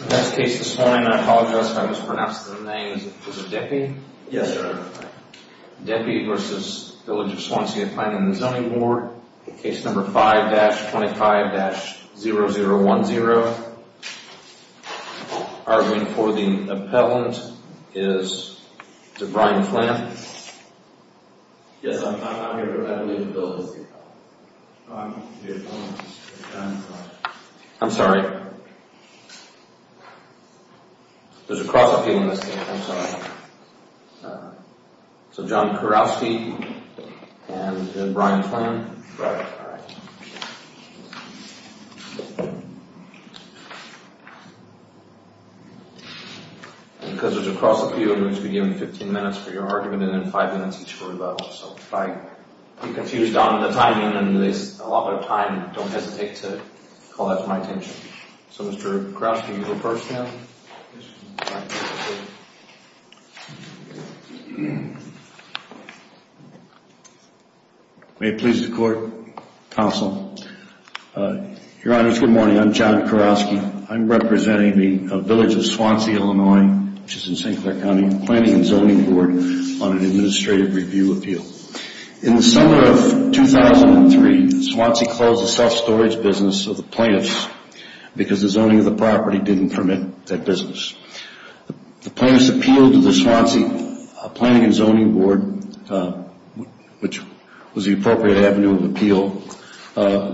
That's the case this morning. I apologize if I mispronounced the name. Is it Deppe? Yes, sir. Deppe v. Village of Swansea Planning & Zoning Board. Case number 5-25-0010. Arguing for the appellant is Debrian Flantham. Yes, I'm here. I believe the bill is here. I'm the appellant. I'm sorry. There's a cross appeal in this case. I'm sorry. So John Kurowski and Brian Flantham? Right. All right. Because there's a cross appeal, I'm going to give you 15 minutes for your argument and then 5 minutes each for rebuttal. So if I get confused on the timing and there's a lot of time, don't hesitate to call that to my attention. So Mr. Kurowski, you go first now. May it please the court, counsel. Your Honor, it's good morning. I'm John Kurowski. I'm representing the Village of Swansea, Illinois, which is in St. Clair County Planning & Zoning Board on an administrative review appeal. In the summer of 2003, Swansea closed the self-storage business of the plaintiffs because the zoning of the property didn't permit that business. The plaintiffs appealed to the Swansea Planning & Zoning Board, which was the appropriate avenue of appeal,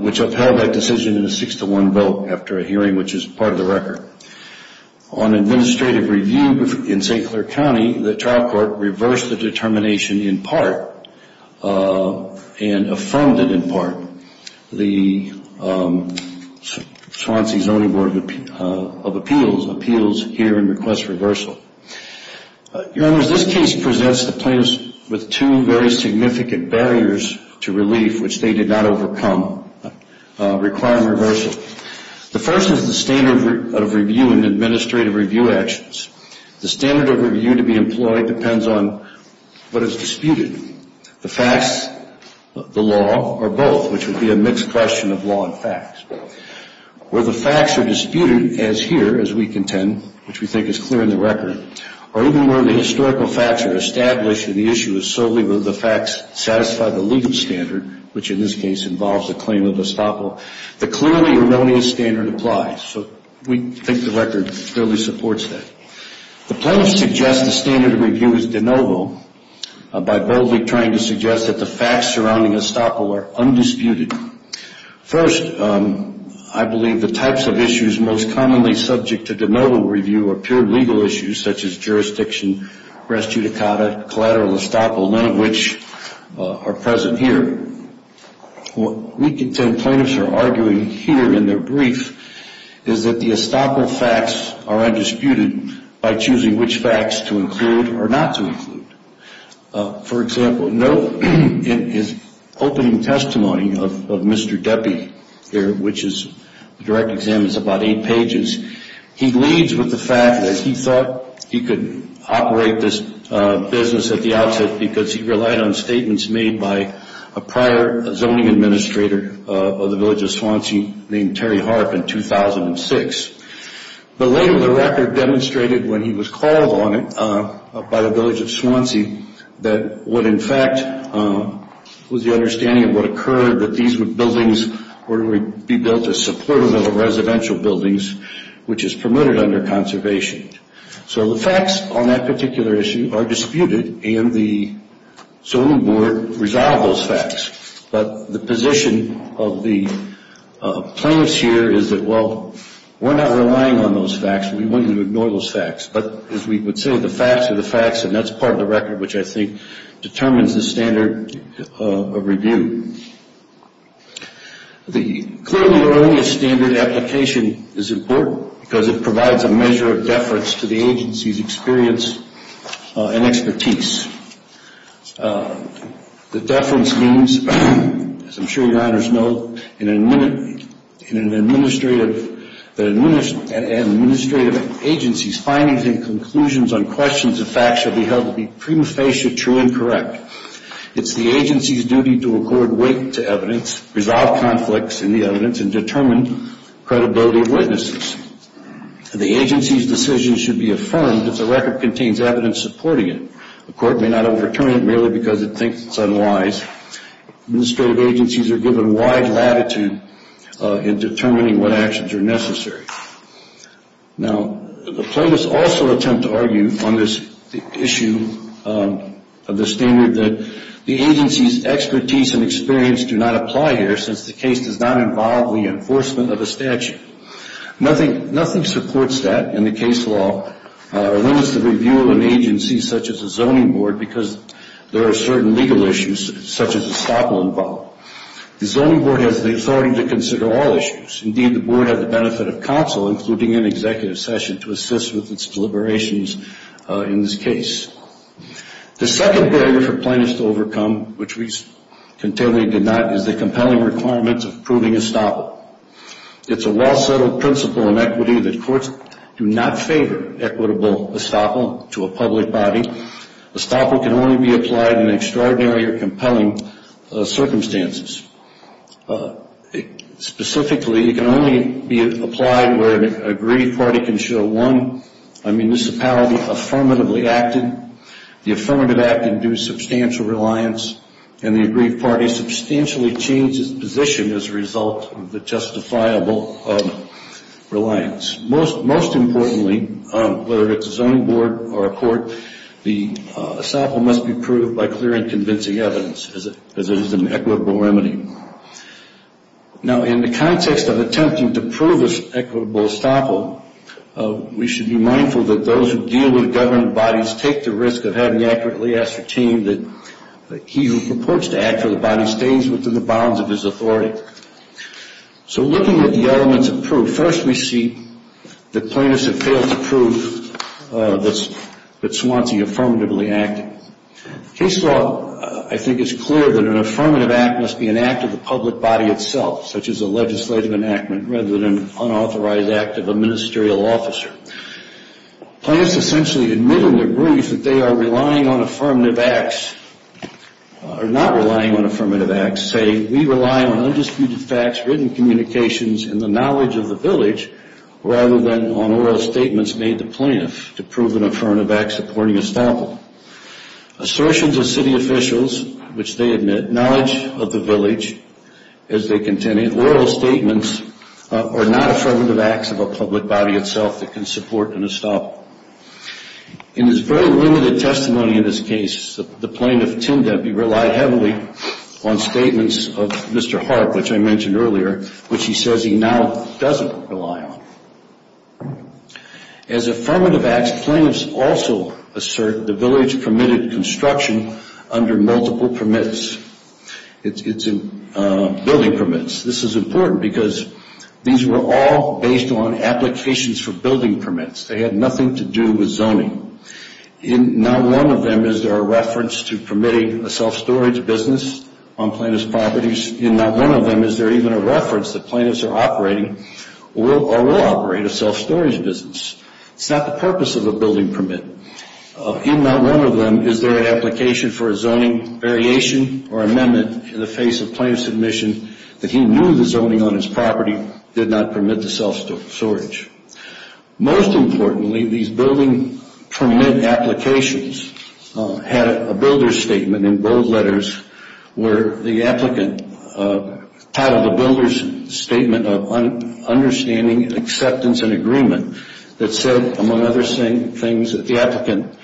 which upheld that decision in a 6-1 vote after a hearing, which is part of the record. On administrative review in St. Clair County, the trial court reversed the determination in part and affirmed it in part. The Swansea Zoning Board of Appeals appeals here and requests reversal. Your Honor, this case presents the plaintiffs with two very significant barriers to relief, which they did not overcome, requiring reversal. The first is the standard of review in administrative review actions. The standard of review to be employed depends on what is disputed. The facts, the law, or both, which would be a mixed question of law and facts. Where the facts are disputed as here, as we contend, which we think is clear in the record, or even where the historical facts are established and the issue is solely whether the facts satisfy the legal standard, which in this case involves the claim of estoppel, the clearly erroneous standard applies. We think the record clearly supports that. The plaintiffs suggest the standard of review is de novo by boldly trying to suggest that the facts surrounding estoppel are undisputed. First, I believe the types of issues most commonly subject to de novo review are pure legal issues, such as jurisdiction, res judicata, collateral estoppel, none of which are present here. What we contend plaintiffs are arguing here in their brief is that the estoppel facts are undisputed by choosing which facts to include or not to include. For example, note in his opening testimony of Mr. Deppie here, which is, the direct exam is about eight pages, he bleeds with the fact that he thought he could operate this business at the outset because he relied on statements made by a prior zoning administrator of the village of Swansea named Terry Harp in 2006. But later the record demonstrated when he was called on it by the village of Swansea that what in fact was the understanding of what occurred that these buildings would be built as supportive of residential buildings, which is permitted under conservation. So the facts on that particular issue are disputed and the Zoning Board resolved those facts. But the position of the plaintiffs here is that, well, we're not relying on those facts. We want you to ignore those facts. But as we would say, the facts are the facts, and that's part of the record which I think determines the standard of review. The clearly erroneous standard application is important because it provides a measure of deference to the agency's experience and expertise. The deference means, as I'm sure your honors know, in an administrative agency's findings and conclusions on questions of facts should be held to be prima facie true and correct. It's the agency's duty to accord weight to evidence, resolve conflicts in the evidence, and determine credibility of witnesses. The agency's decision should be affirmed if the record contains evidence supporting it. The court may not overturn it merely because it thinks it's unwise. Administrative agencies are given wide latitude in determining what actions are necessary. Now, the plaintiffs also attempt to argue on this issue of the standard that the agency's expertise and experience do not apply here since the case does not involve the enforcement of a statute. Nothing supports that in the case law, or limits the review of an agency such as a zoning board, because there are certain legal issues such as estoppel involved. The zoning board has the authority to consider all issues. Indeed, the board has the benefit of counsel, including an executive session, to assist with its deliberations in this case. The second barrier for plaintiffs to overcome, which we continually do not, is the compelling requirements of proving estoppel. It's a well-settled principle in equity that courts do not favor equitable estoppel to a public body. Estoppel can only be applied in extraordinary or compelling circumstances. Specifically, it can only be applied where an agreed party can show one municipality affirmatively acted, the affirmative act can do substantial reliance, and the agreed party substantially changes position as a result of the justifiable reliance. Most importantly, whether it's a zoning board or a court, the estoppel must be proved by clear and convincing evidence, as it is an equitable remedy. Now, in the context of attempting to prove this equitable estoppel, we should be mindful that those who deal with government bodies take the risk of having accurately ascertained that he who purports to act for the body stays within the bounds of his authority. So looking at the elements of proof, first we see that plaintiffs have failed to prove that Swansea affirmatively acted. Case law, I think, is clear that an affirmative act must be an act of the public body itself, such as a legislative enactment, rather than an unauthorized act of a ministerial officer. Plaintiffs essentially admit in their brief that they are relying on affirmative acts, or not relying on affirmative acts, saying, we rely on undisputed facts, written communications, and the knowledge of the village, rather than on oral statements made to plaintiffs to prove an affirmative act supporting estoppel. Assertions of city officials, which they admit, that knowledge of the village, as they contend, and oral statements are not affirmative acts of a public body itself that can support an estoppel. In his very limited testimony in this case, the plaintiff tended to rely heavily on statements of Mr. Harp, which I mentioned earlier, which he says he now doesn't rely on. As affirmative acts, plaintiffs also assert the village permitted construction under multiple permits. It's building permits. This is important because these were all based on applications for building permits. They had nothing to do with zoning. In not one of them is there a reference to permitting a self-storage business on plaintiff's properties. In not one of them is there even a reference that plaintiffs are operating or will operate a self-storage business. It's not the purpose of a building permit. In not one of them is there an application for a zoning variation or amendment in the face of plaintiff's admission that he knew the zoning on his property did not permit the self-storage. Most importantly, these building permit applications had a builder's statement in bold letters where the applicant titled the builder's statement, Understanding, Acceptance, and Agreement that said, among other things, that the applicant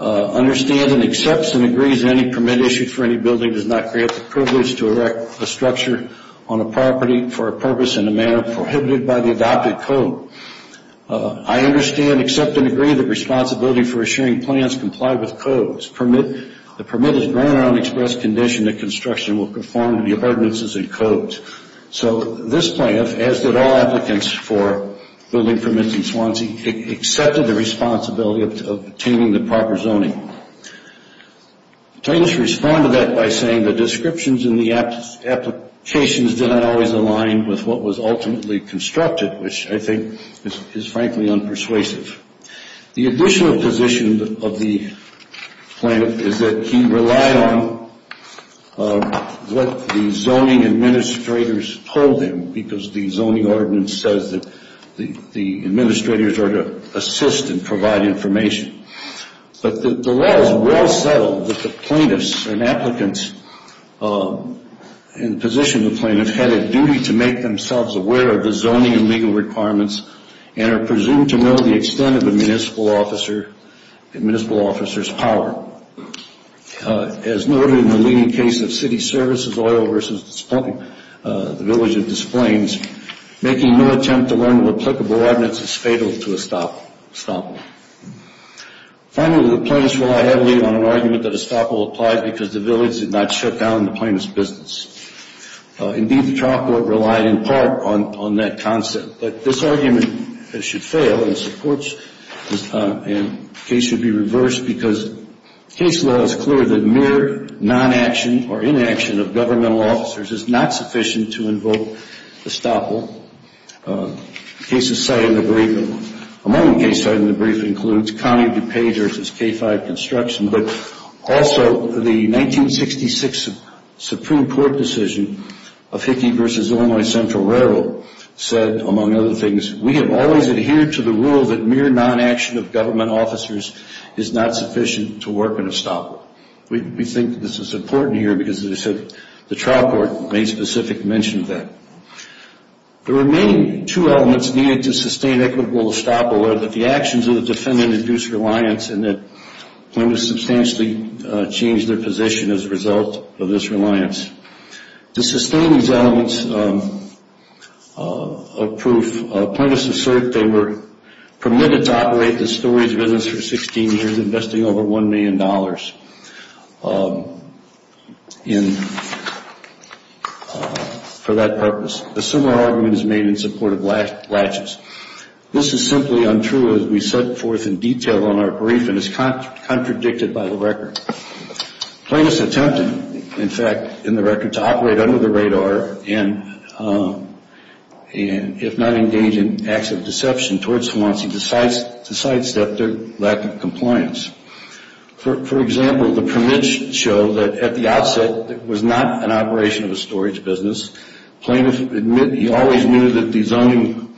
understands and accepts and agrees that any permit issued for any building does not create the privilege to erect a structure on a property for a purpose in a manner prohibited by the adopted code. I understand, accept, and agree that responsibility for assuring plans comply with codes. The permit is granted on express condition that construction will conform to the ordinances and codes. This plan, as did all applicants for building permits in Swansea, accepted the responsibility of obtaining the proper zoning. Plaintiffs responded to that by saying the descriptions in the applications did not always align with what was ultimately constructed, which I think is frankly unpersuasive. The additional position of the plaintiff is that he relied on what the zoning administrators told him because the zoning ordinance says that the administrators are to assist and provide information. But the law is well settled that the plaintiffs and applicants in the position of the plaintiffs had a duty to make themselves aware of the zoning and legal requirements and are presumed to know the extent of a municipal officer's power. As noted in the leading case of city services oil versus the village of Des Plaines, making no attempt to learn of applicable ordinance is fatal to estoppel. Finally, the plaintiffs relied heavily on an argument that estoppel applied because the village did not shut down the plaintiff's business. Indeed, the trial court relied in part on that concept. But this argument should fail and the case should be reversed because case law is clear that mere non-action or inaction of governmental officers is not sufficient to invoke estoppel. Among the cases cited in the brief includes County of DuPage versus K-5 construction, but also the 1966 Supreme Court decision of Hickey versus Illinois Central Railroad said, among other things, we have always adhered to the rule that mere non-action of government officers is not sufficient to work an estoppel. We think this is important here because, as I said, the trial court made specific mention of that. The remaining two elements needed to sustain equitable estoppel are that the actions of the defendant induced reliance and that plaintiffs substantially changed their position as a result of this reliance. To sustain these elements of proof, plaintiffs assert they were permitted to operate the storey's business for 16 years, investing over $1 million for that purpose. A similar argument is made in support of latches. This is simply untrue as we set forth in detail on our brief and is contradicted by the record. Plaintiffs attempted, in fact, in the record, to operate under the radar and if not engaged in acts of deception towards someone, he decides to sidestep their lack of compliance. For example, the permits show that at the outset it was not an operation of a storage business. Plaintiffs admit he always knew that the zoning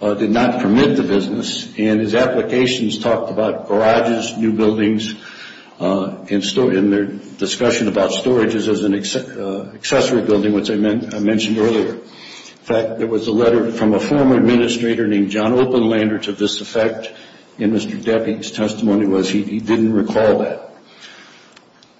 did not permit the business and his applications talked about garages, new buildings, and their discussion about storages as an accessory building, which I mentioned earlier. In fact, there was a letter from a former administrator named John Openlander to this effect and Mr. Depke's testimony was he didn't recall that.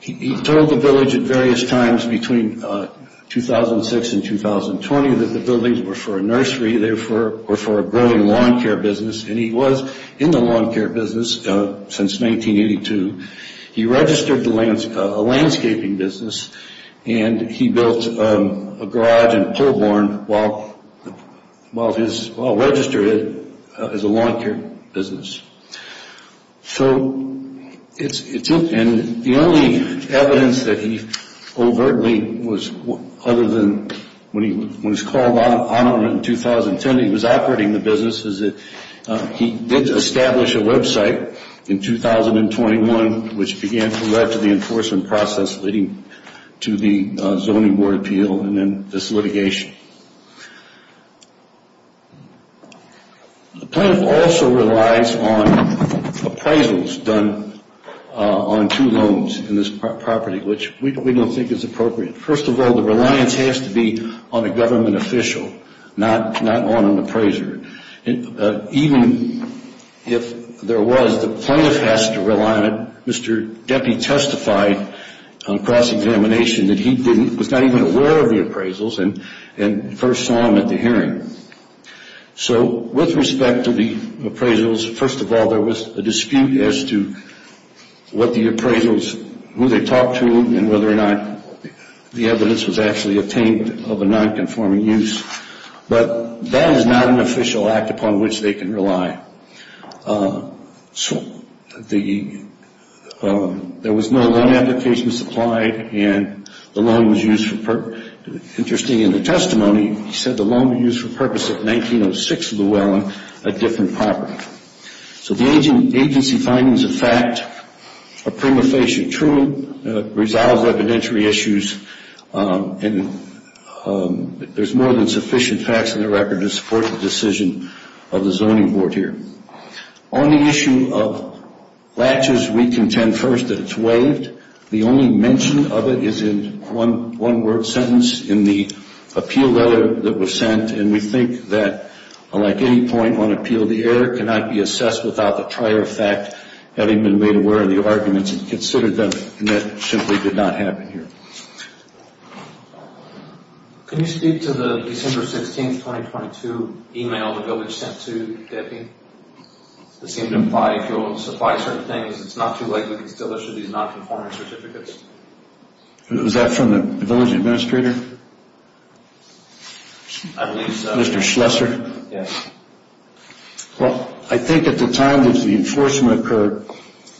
He told the village at various times between 2006 and 2020 that the buildings were for a nursery, therefore, were for a growing lawn care business and he was in the lawn care business since 1982. He registered a landscaping business and he built a garage in Polborn while registered it as a lawn care business. So the only evidence that he overtly was, other than when he was called on in 2010, he was operating the business, is that he did establish a website in 2021, which began to lead to the enforcement process leading to the zoning board appeal and then this litigation. The plaintiff also relies on appraisals done on two loans in this property, which we don't think is appropriate. First of all, the reliance has to be on a government official, not on an appraiser. Even if there was, the plaintiff has to rely on it. Mr. Depke testified on cross-examination that he was not even aware of the appraisals and first saw them at the hearing. So with respect to the appraisals, first of all, there was a dispute as to what the appraisals, who they talked to and whether or not the evidence was actually obtained of a non-conforming use. But that is not an official act upon which they can rely. There was no loan application supplied and the loan was used for purpose. Interesting in the testimony, he said the loan was used for purpose of 1906 Llewellyn, a different property. So the agency findings of fact are prima facie true, it resolves evidentiary issues and there's more than sufficient facts in the record to support the decision of the zoning board here. On the issue of latches, we contend first that it's waived. The only mention of it is in one word sentence in the appeal letter that was sent and we think that like any point on appeal, the error cannot be assessed without the prior fact having been made aware of the arguments and considered them and that simply did not happen here. Can you speak to the December 16, 2022 email the village sent to Debbie? It seemed to imply if you're willing to supply certain things, it's not too late, we can still issue these non-conforming certificates. Was that from the village administrator? I believe so. Mr. Schlesser? Yes. Well, I think at the time that the enforcement occurred,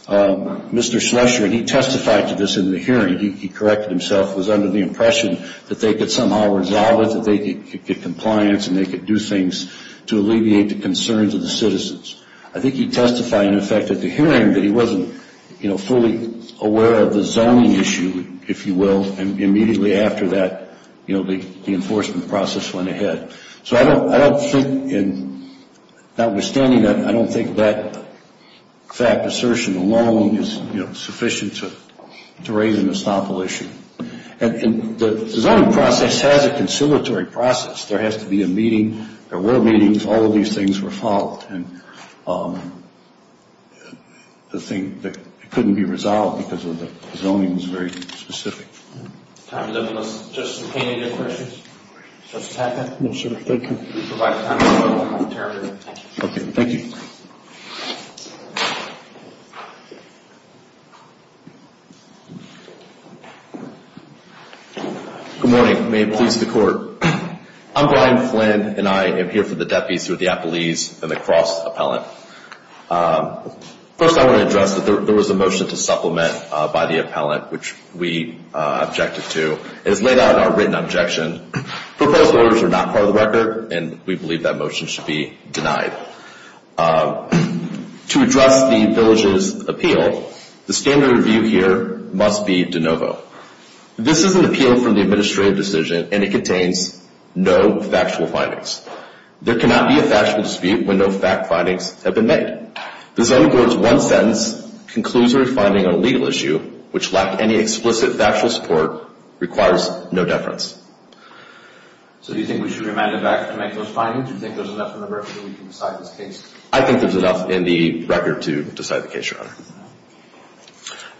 Mr. Schlesser, and he testified to this in the hearing, he corrected himself, was under the impression that they could somehow resolve it, that they could get compliance and they could do things to alleviate the concerns of the citizens. I think he testified in effect at the hearing that he wasn't fully aware of the zoning issue, if you will, and immediately after that, the enforcement process went ahead. So I don't think, notwithstanding that, I don't think that fact assertion alone is sufficient to raise an estoppel issue. And the zoning process has a conciliatory process. There has to be a meeting. There were meetings. All of these things were followed. The thing that couldn't be resolved because of the zoning was very specific. Time to open this. Justice McCain, any other questions? Justice Packett? No, sir. Thank you. Thank you. Good morning. May it please the Court. I'm Brian Flynn, and I am here for the deputies who are the appellees and the cross appellant. First, I want to address that there was a motion to supplement by the appellant, which we objected to. It is laid out in our written objection. Proposed orders are not part of the record, and we believe that motion should be denied. To address the village's appeal, the standard review here must be de novo. This is an appeal from the administrative decision, and it contains no factual findings. There cannot be a factual dispute when no fact findings have been made. The zoning board's one sentence concludes their finding on a legal issue, which lacked any explicit factual support, requires no deference. So do you think we should remand it back to make those findings? Do you think there's enough in the record to decide this case? I think there's enough in the record to decide the case, Your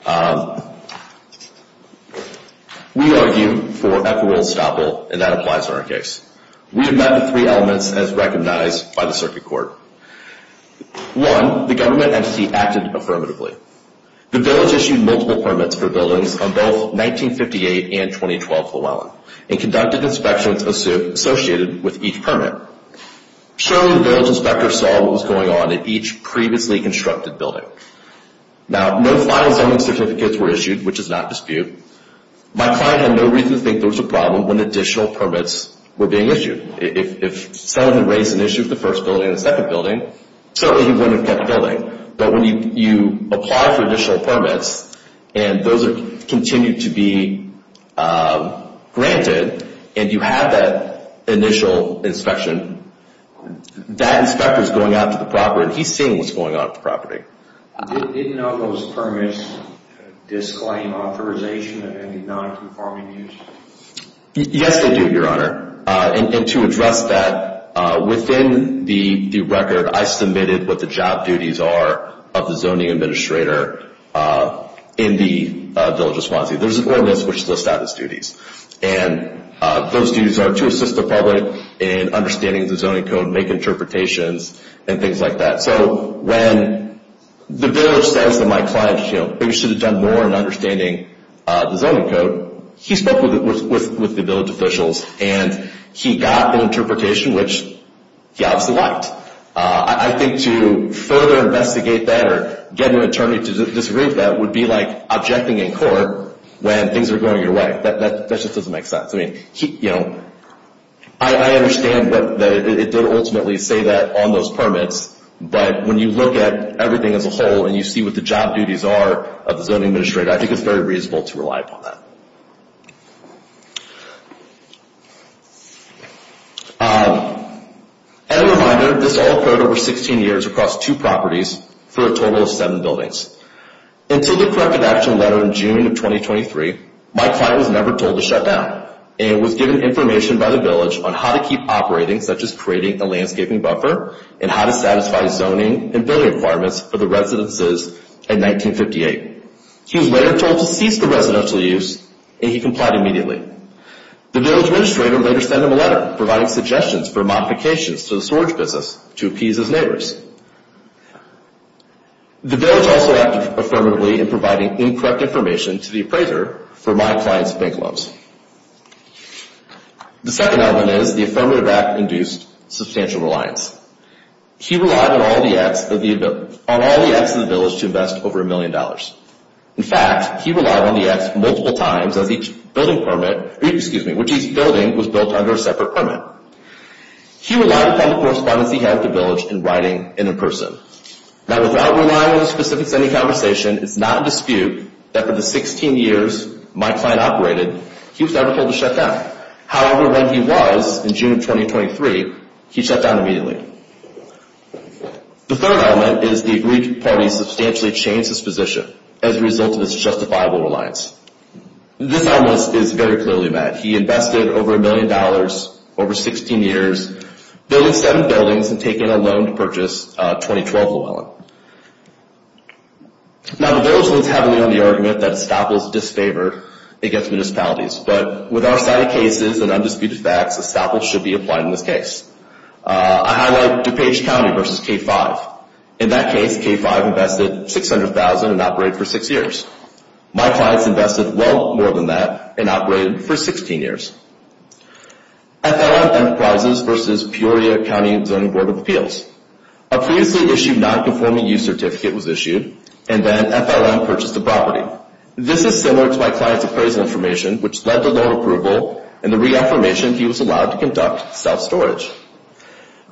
Honor. We argue for equitable estoppel, and that applies to our case. We have met the three elements as recognized by the circuit court. One, the government entity acted affirmatively. The village issued multiple permits for buildings on both 1958 and 2012 Llewellyn and conducted inspections associated with each permit. Surely the village inspector saw what was going on in each previously constructed building. Now, no final zoning certificates were issued, which is not dispute. My client had no reason to think there was a problem when additional permits were being issued. If someone had raised an issue with the first building and the second building, certainly he wouldn't have kept the building. But when you apply for additional permits, and those continue to be granted, and you have that initial inspection, that inspector is going out to the property, and he's seeing what's going on at the property. Didn't all those permits disclaim authorization of any non-conforming use? Yes, they do, Your Honor. And to address that, within the record, I submitted what the job duties are of the zoning administrator in the village of Swansea. There's an ordinance which lists out his duties. And those duties are to assist the public in understanding the zoning code, make interpretations, and things like that. So when the village says that my client maybe should have done more in understanding the zoning code, he spoke with the village officials, and he got an interpretation which he obviously liked. I think to further investigate that or get an attorney to disagree with that would be like objecting in court when things are going your way. That just doesn't make sense. I understand that it did ultimately say that on those permits. But when you look at everything as a whole, and you see what the job duties are of the zoning administrator, I think it's very reasonable to rely upon that. As a reminder, this all occurred over 16 years across two properties for a total of seven buildings. Until the corrective action letter in June of 2023, my client was never told to shut down and was given information by the village on how to keep operating, such as creating a landscaping buffer, and how to satisfy zoning and building requirements for the residences in 1958. He was later told to cease the residential use, and he complied immediately. The village administrator later sent him a letter providing suggestions for modifications to the storage business to appease his neighbors. The village also acted affirmatively in providing incorrect information to the appraiser for my client's bank loans. The second element is the affirmative act induced substantial reliance. He relied on all the acts of the village to invest over a million dollars. In fact, he relied on the acts multiple times as each building was built under a separate permit. He relied upon the correspondence he had with the village in writing and in person. Now, without relying on the specifics of any conversation, it's not in dispute that for the 16 years my client operated, he was never told to shut down. However, when he was in June of 2023, he shut down immediately. The third element is the agreed party substantially changed its position as a result of this justifiable reliance. This element is very clearly met. He invested over a million dollars over 16 years, building seven buildings, and taking a loan to purchase 2012 Llewellyn. Now, the village leans heavily on the argument that estoppels disfavor against municipalities, but with our cited cases and undisputed facts, estoppels should be applied in this case. I highlight DuPage County versus K-5. In that case, K-5 invested $600,000 and operated for six years. My clients invested well more than that and operated for 16 years. FLM Enterprises versus Peoria County Zoning Board of Appeals. A previously issued nonconforming use certificate was issued, and then FLM purchased the property. This is similar to my client's appraisal information, which led to loan approval and the reaffirmation he was allowed to conduct self-storage.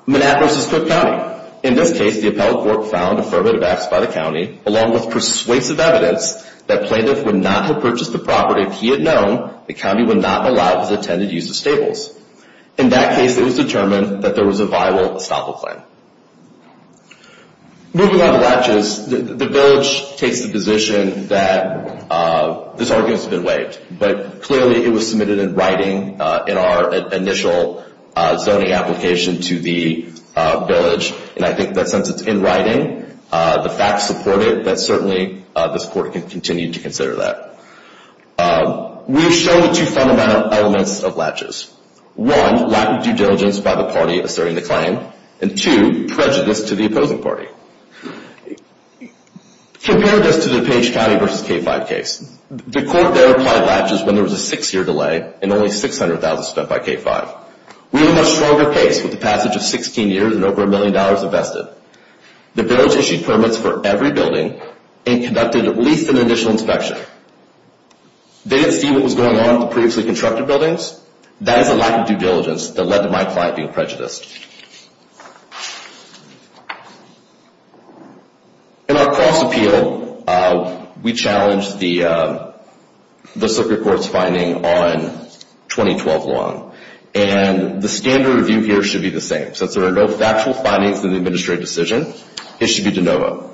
MNAP versus Cook County. In this case, the appellate court found affirmative acts by the county, along with persuasive evidence that plaintiff would not have purchased the property if he had known the county would not allow his attendant use of stables. In that case, it was determined that there was a viable estoppel claim. Moving on to latches, the village takes the position that this argument has been waived, but clearly it was submitted in writing in our initial zoning application to the village, and I think that since it's in writing, the facts support it, but certainly this court can continue to consider that. We've shown the two fundamental elements of latches. One, lack of due diligence by the party asserting the claim, and two, prejudice to the opposing party. Compare this to the DuPage County versus K-5 case. The court there applied latches when there was a six-year delay and only $600,000 spent by K-5. We were at a much stronger pace with the passage of 16 years and over $1 million invested. The village issued permits for every building and conducted at least an initial inspection. They didn't see what was going on with the previously constructed buildings. That is a lack of due diligence that led to my client being prejudiced. In our cross-appeal, we challenged the circuit court's finding on 2012 law, and the standard review here should be the same. Since there are no factual findings in the administrative decision, it should be de novo.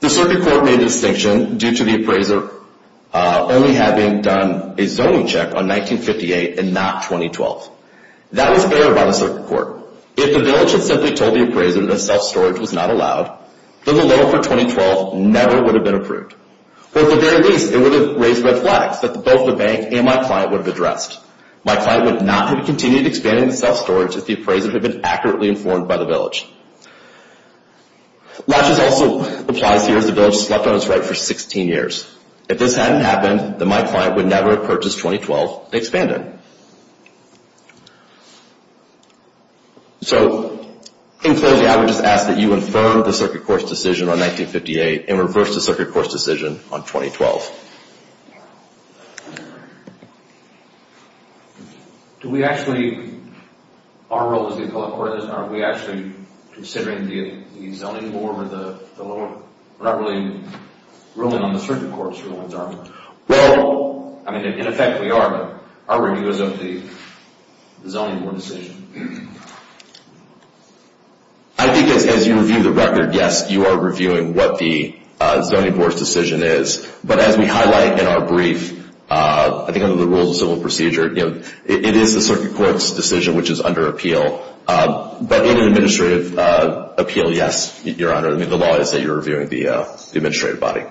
The circuit court made a distinction due to the appraiser only having done a zoning check on 1958 and not 2012. That was fair by the circuit court. If the village had simply told the appraiser that self-storage was not allowed, then the loan for 2012 never would have been approved. Or at the very least, it would have raised red flags that both the bank and my client would have addressed. My client would not have continued expanding self-storage if the appraiser had been accurately informed by the village. Latches also applies here as the village slept on its right for 16 years. If this hadn't happened, then my client would never have purchased 2012 and expanded. So, in closing, I would just ask that you infirm the circuit court's decision on 1958 and reverse the circuit court's decision on 2012. Do we actually, our role as the appellate court, are we actually considering the zoning board or the ruling on the circuit court? Well, I mean, in effect we are, but our review is of the zoning board decision. I think as you review the record, yes, you are reviewing what the zoning board's decision is. But as we highlight in our brief, I think under the rules of civil procedure, it is the circuit court's decision which is under appeal. But in an administrative appeal, yes, Your Honor. I mean, the law is that you're reviewing the administrative body.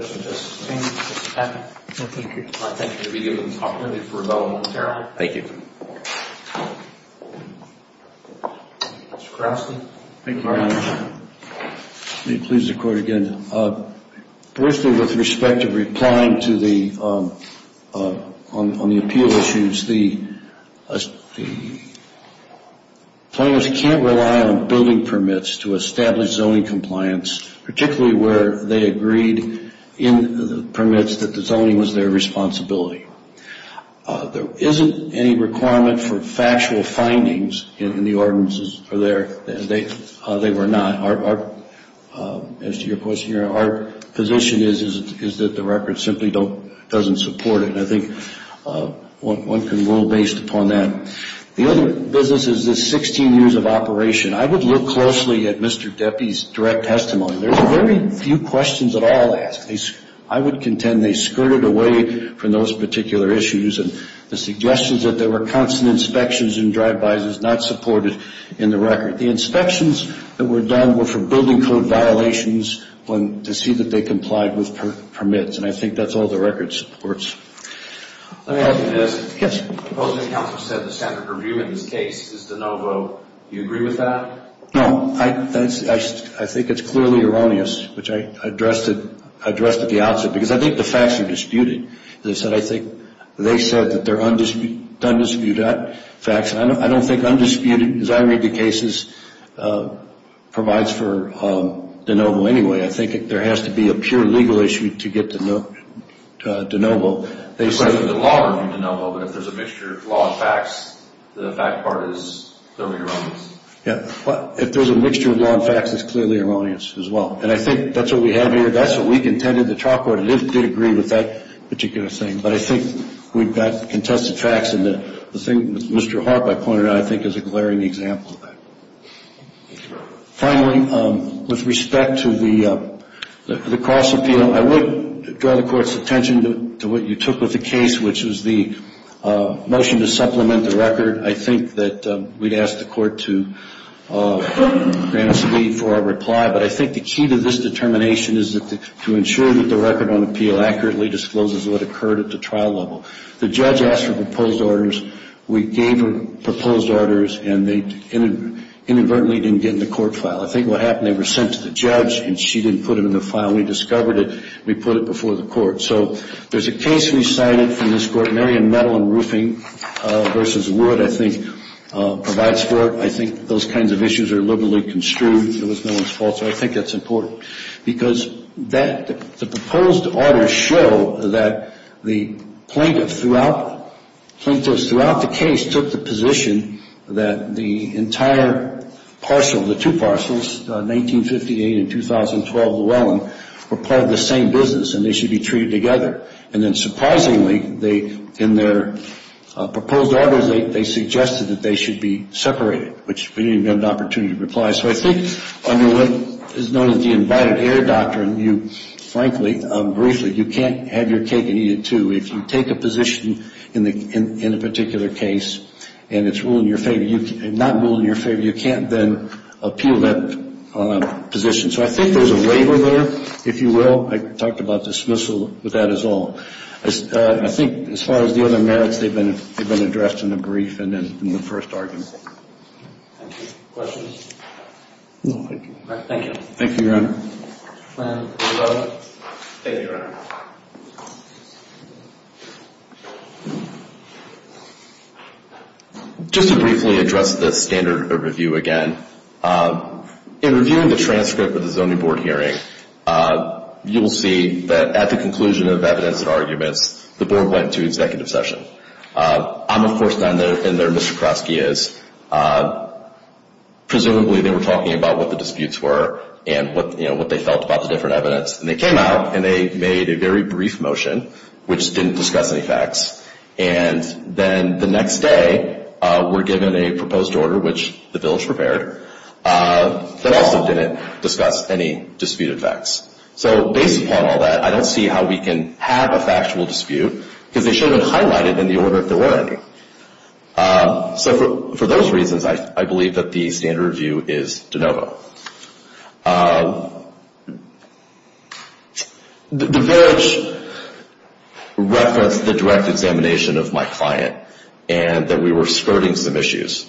Thank you. Thank you. Thank you. Mr. Cranston. Thank you, Your Honor. Let me please the court again. Firstly, with respect to replying to the, on the appeal issues, the plaintiffs can't rely on building permits to establish zoning compliance, particularly where they agreed in the permits that the zoning was their responsibility. There isn't any requirement for factual findings in the ordinances there. They were not. As to your question, Your Honor, our position is that the record simply doesn't support it. I think one can rule based upon that. The other business is the 16 years of operation. I would look closely at Mr. Deppie's direct testimony. There's very few questions at all asked. I would contend they skirted away from those particular issues and the suggestions that there were constant inspections and drive-bys is not supported in the record. The inspections that were done were for building code violations to see that they complied with permits, and I think that's all the record supports. Let me ask you this. Yes. The opposing counsel said the standard review in this case is de novo. Do you agree with that? No. I think it's clearly erroneous, which I addressed at the outset, because I think the facts are disputed. They said that they're undisputed facts. I don't think undisputed, as I read the cases, provides for de novo anyway. I think there has to be a pure legal issue to get to de novo. The law review de novo, but if there's a mixture of law and facts, the fact part is clearly erroneous. Yes. If there's a mixture of law and facts, it's clearly erroneous as well, and I think that's what we have here. That's what we contended the trial court did agree with that particular thing, but I think we've got contested facts, and the thing with Mr. Harp I pointed out I think is a glaring example of that. Thank you very much. Finally, with respect to the cross appeal, I would draw the Court's attention to what you took with the case, which was the motion to supplement the record. I think that we'd ask the Court to grant us leave for our reply, but I think the key to this determination is to ensure that the record on appeal accurately discloses what occurred at the trial level. The judge asked for proposed orders. We gave her proposed orders, and they inadvertently didn't get in the court file. I think what happened, they were sent to the judge, and she didn't put them in the file. We discovered it. We put it before the Court. So there's a case we cited from this Court. Marion Metal and Roofing v. Wood, I think, provides for it. I think those kinds of issues are liberally construed. It was no one's fault, so I think that's important, because the proposed orders show that the plaintiffs throughout the case took the position that the entire parcel, the two parcels, 1958 and 2012 Llewellyn, were part of the same business and they should be treated together. And then surprisingly, in their proposed orders, they suggested that they should be separated, which we didn't even have an opportunity to reply. So I think under what is known as the invited heir doctrine, you, frankly, briefly, you can't have your cake and eat it, too. If you take a position in a particular case and it's not ruled in your favor, you can't then appeal that position. So I think there's a waiver there, if you will. I talked about dismissal, but that is all. I think as far as the other merits, they've been addressed in the brief and in the first argument. Thank you. Questions? No, thank you. All right, thank you. Thank you, Your Honor. Thank you, Your Honor. Just to briefly address the standard overview again, in reviewing the transcript of the Zoning Board hearing, you will see that at the conclusion of evidence and arguments, the Board went to executive session. I'm, of course, not in there Mr. Krotsky is. Presumably, they were talking about what the disputes were and what they felt about the different evidence. And they came out and they made a very brief motion, which didn't discuss any facts. And then the next day, we're given a proposed order, which the bill is prepared, that also didn't discuss any disputed facts. So based upon all that, I don't see how we can have a factual dispute, because they should have highlighted in the order if there were any. So for those reasons, I believe that the standard review is de novo. The verage referenced the direct examination of my client and that we were skirting some issues.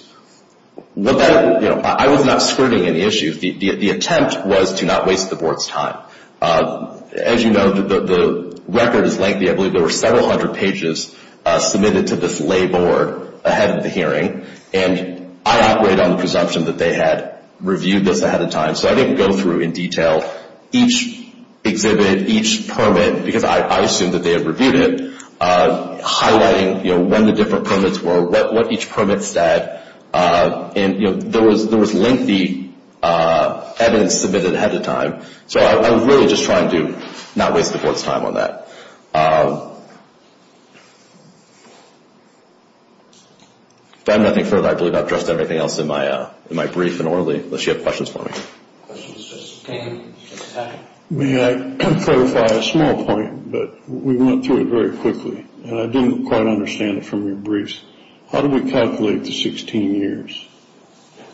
I was not skirting any issues. The attempt was to not waste the Board's time. As you know, the record is lengthy. I believe there were several hundred pages submitted to this lay board ahead of the hearing. And I operate on the presumption that they had reviewed this ahead of time. So I didn't go through in detail each exhibit, each permit, because I assumed that they had reviewed it, highlighting when the different permits were, what each permit said. And there was lengthy evidence submitted ahead of time. So I was really just trying to not waste the Board's time on that. If I have nothing further, I believe I've addressed everything else in my brief and orally, unless you have questions for me. May I clarify a small point? But we went through it very quickly, and I didn't quite understand it from your briefs. How do we calculate the 16 years?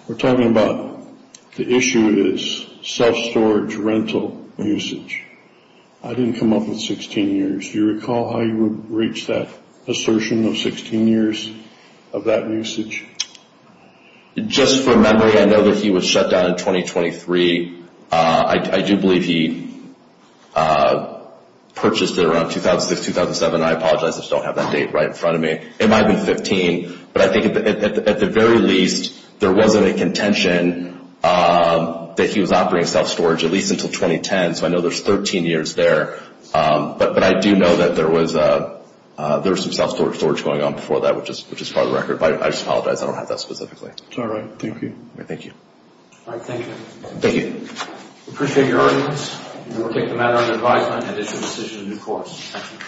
We're talking about the issue is self-storage rental usage. I didn't come up with 16 years. Do you recall how you would reach that assertion of 16 years of that usage? Just from memory, I know that he was shut down in 2023. I do believe he purchased it around 2006, 2007. I apologize. I just don't have that date right in front of me. It might have been 15. But I think at the very least, there wasn't a contention that he was operating self-storage, at least until 2010. So I know there's 13 years there. But I do know that there was some self-storage going on before that, which is part of the record. But I just apologize. I don't have that specifically. All right. Thank you. All right. Thank you. Thank you. We appreciate your audience. We will take the matter under advisement and issue a decision in due course. Thank you.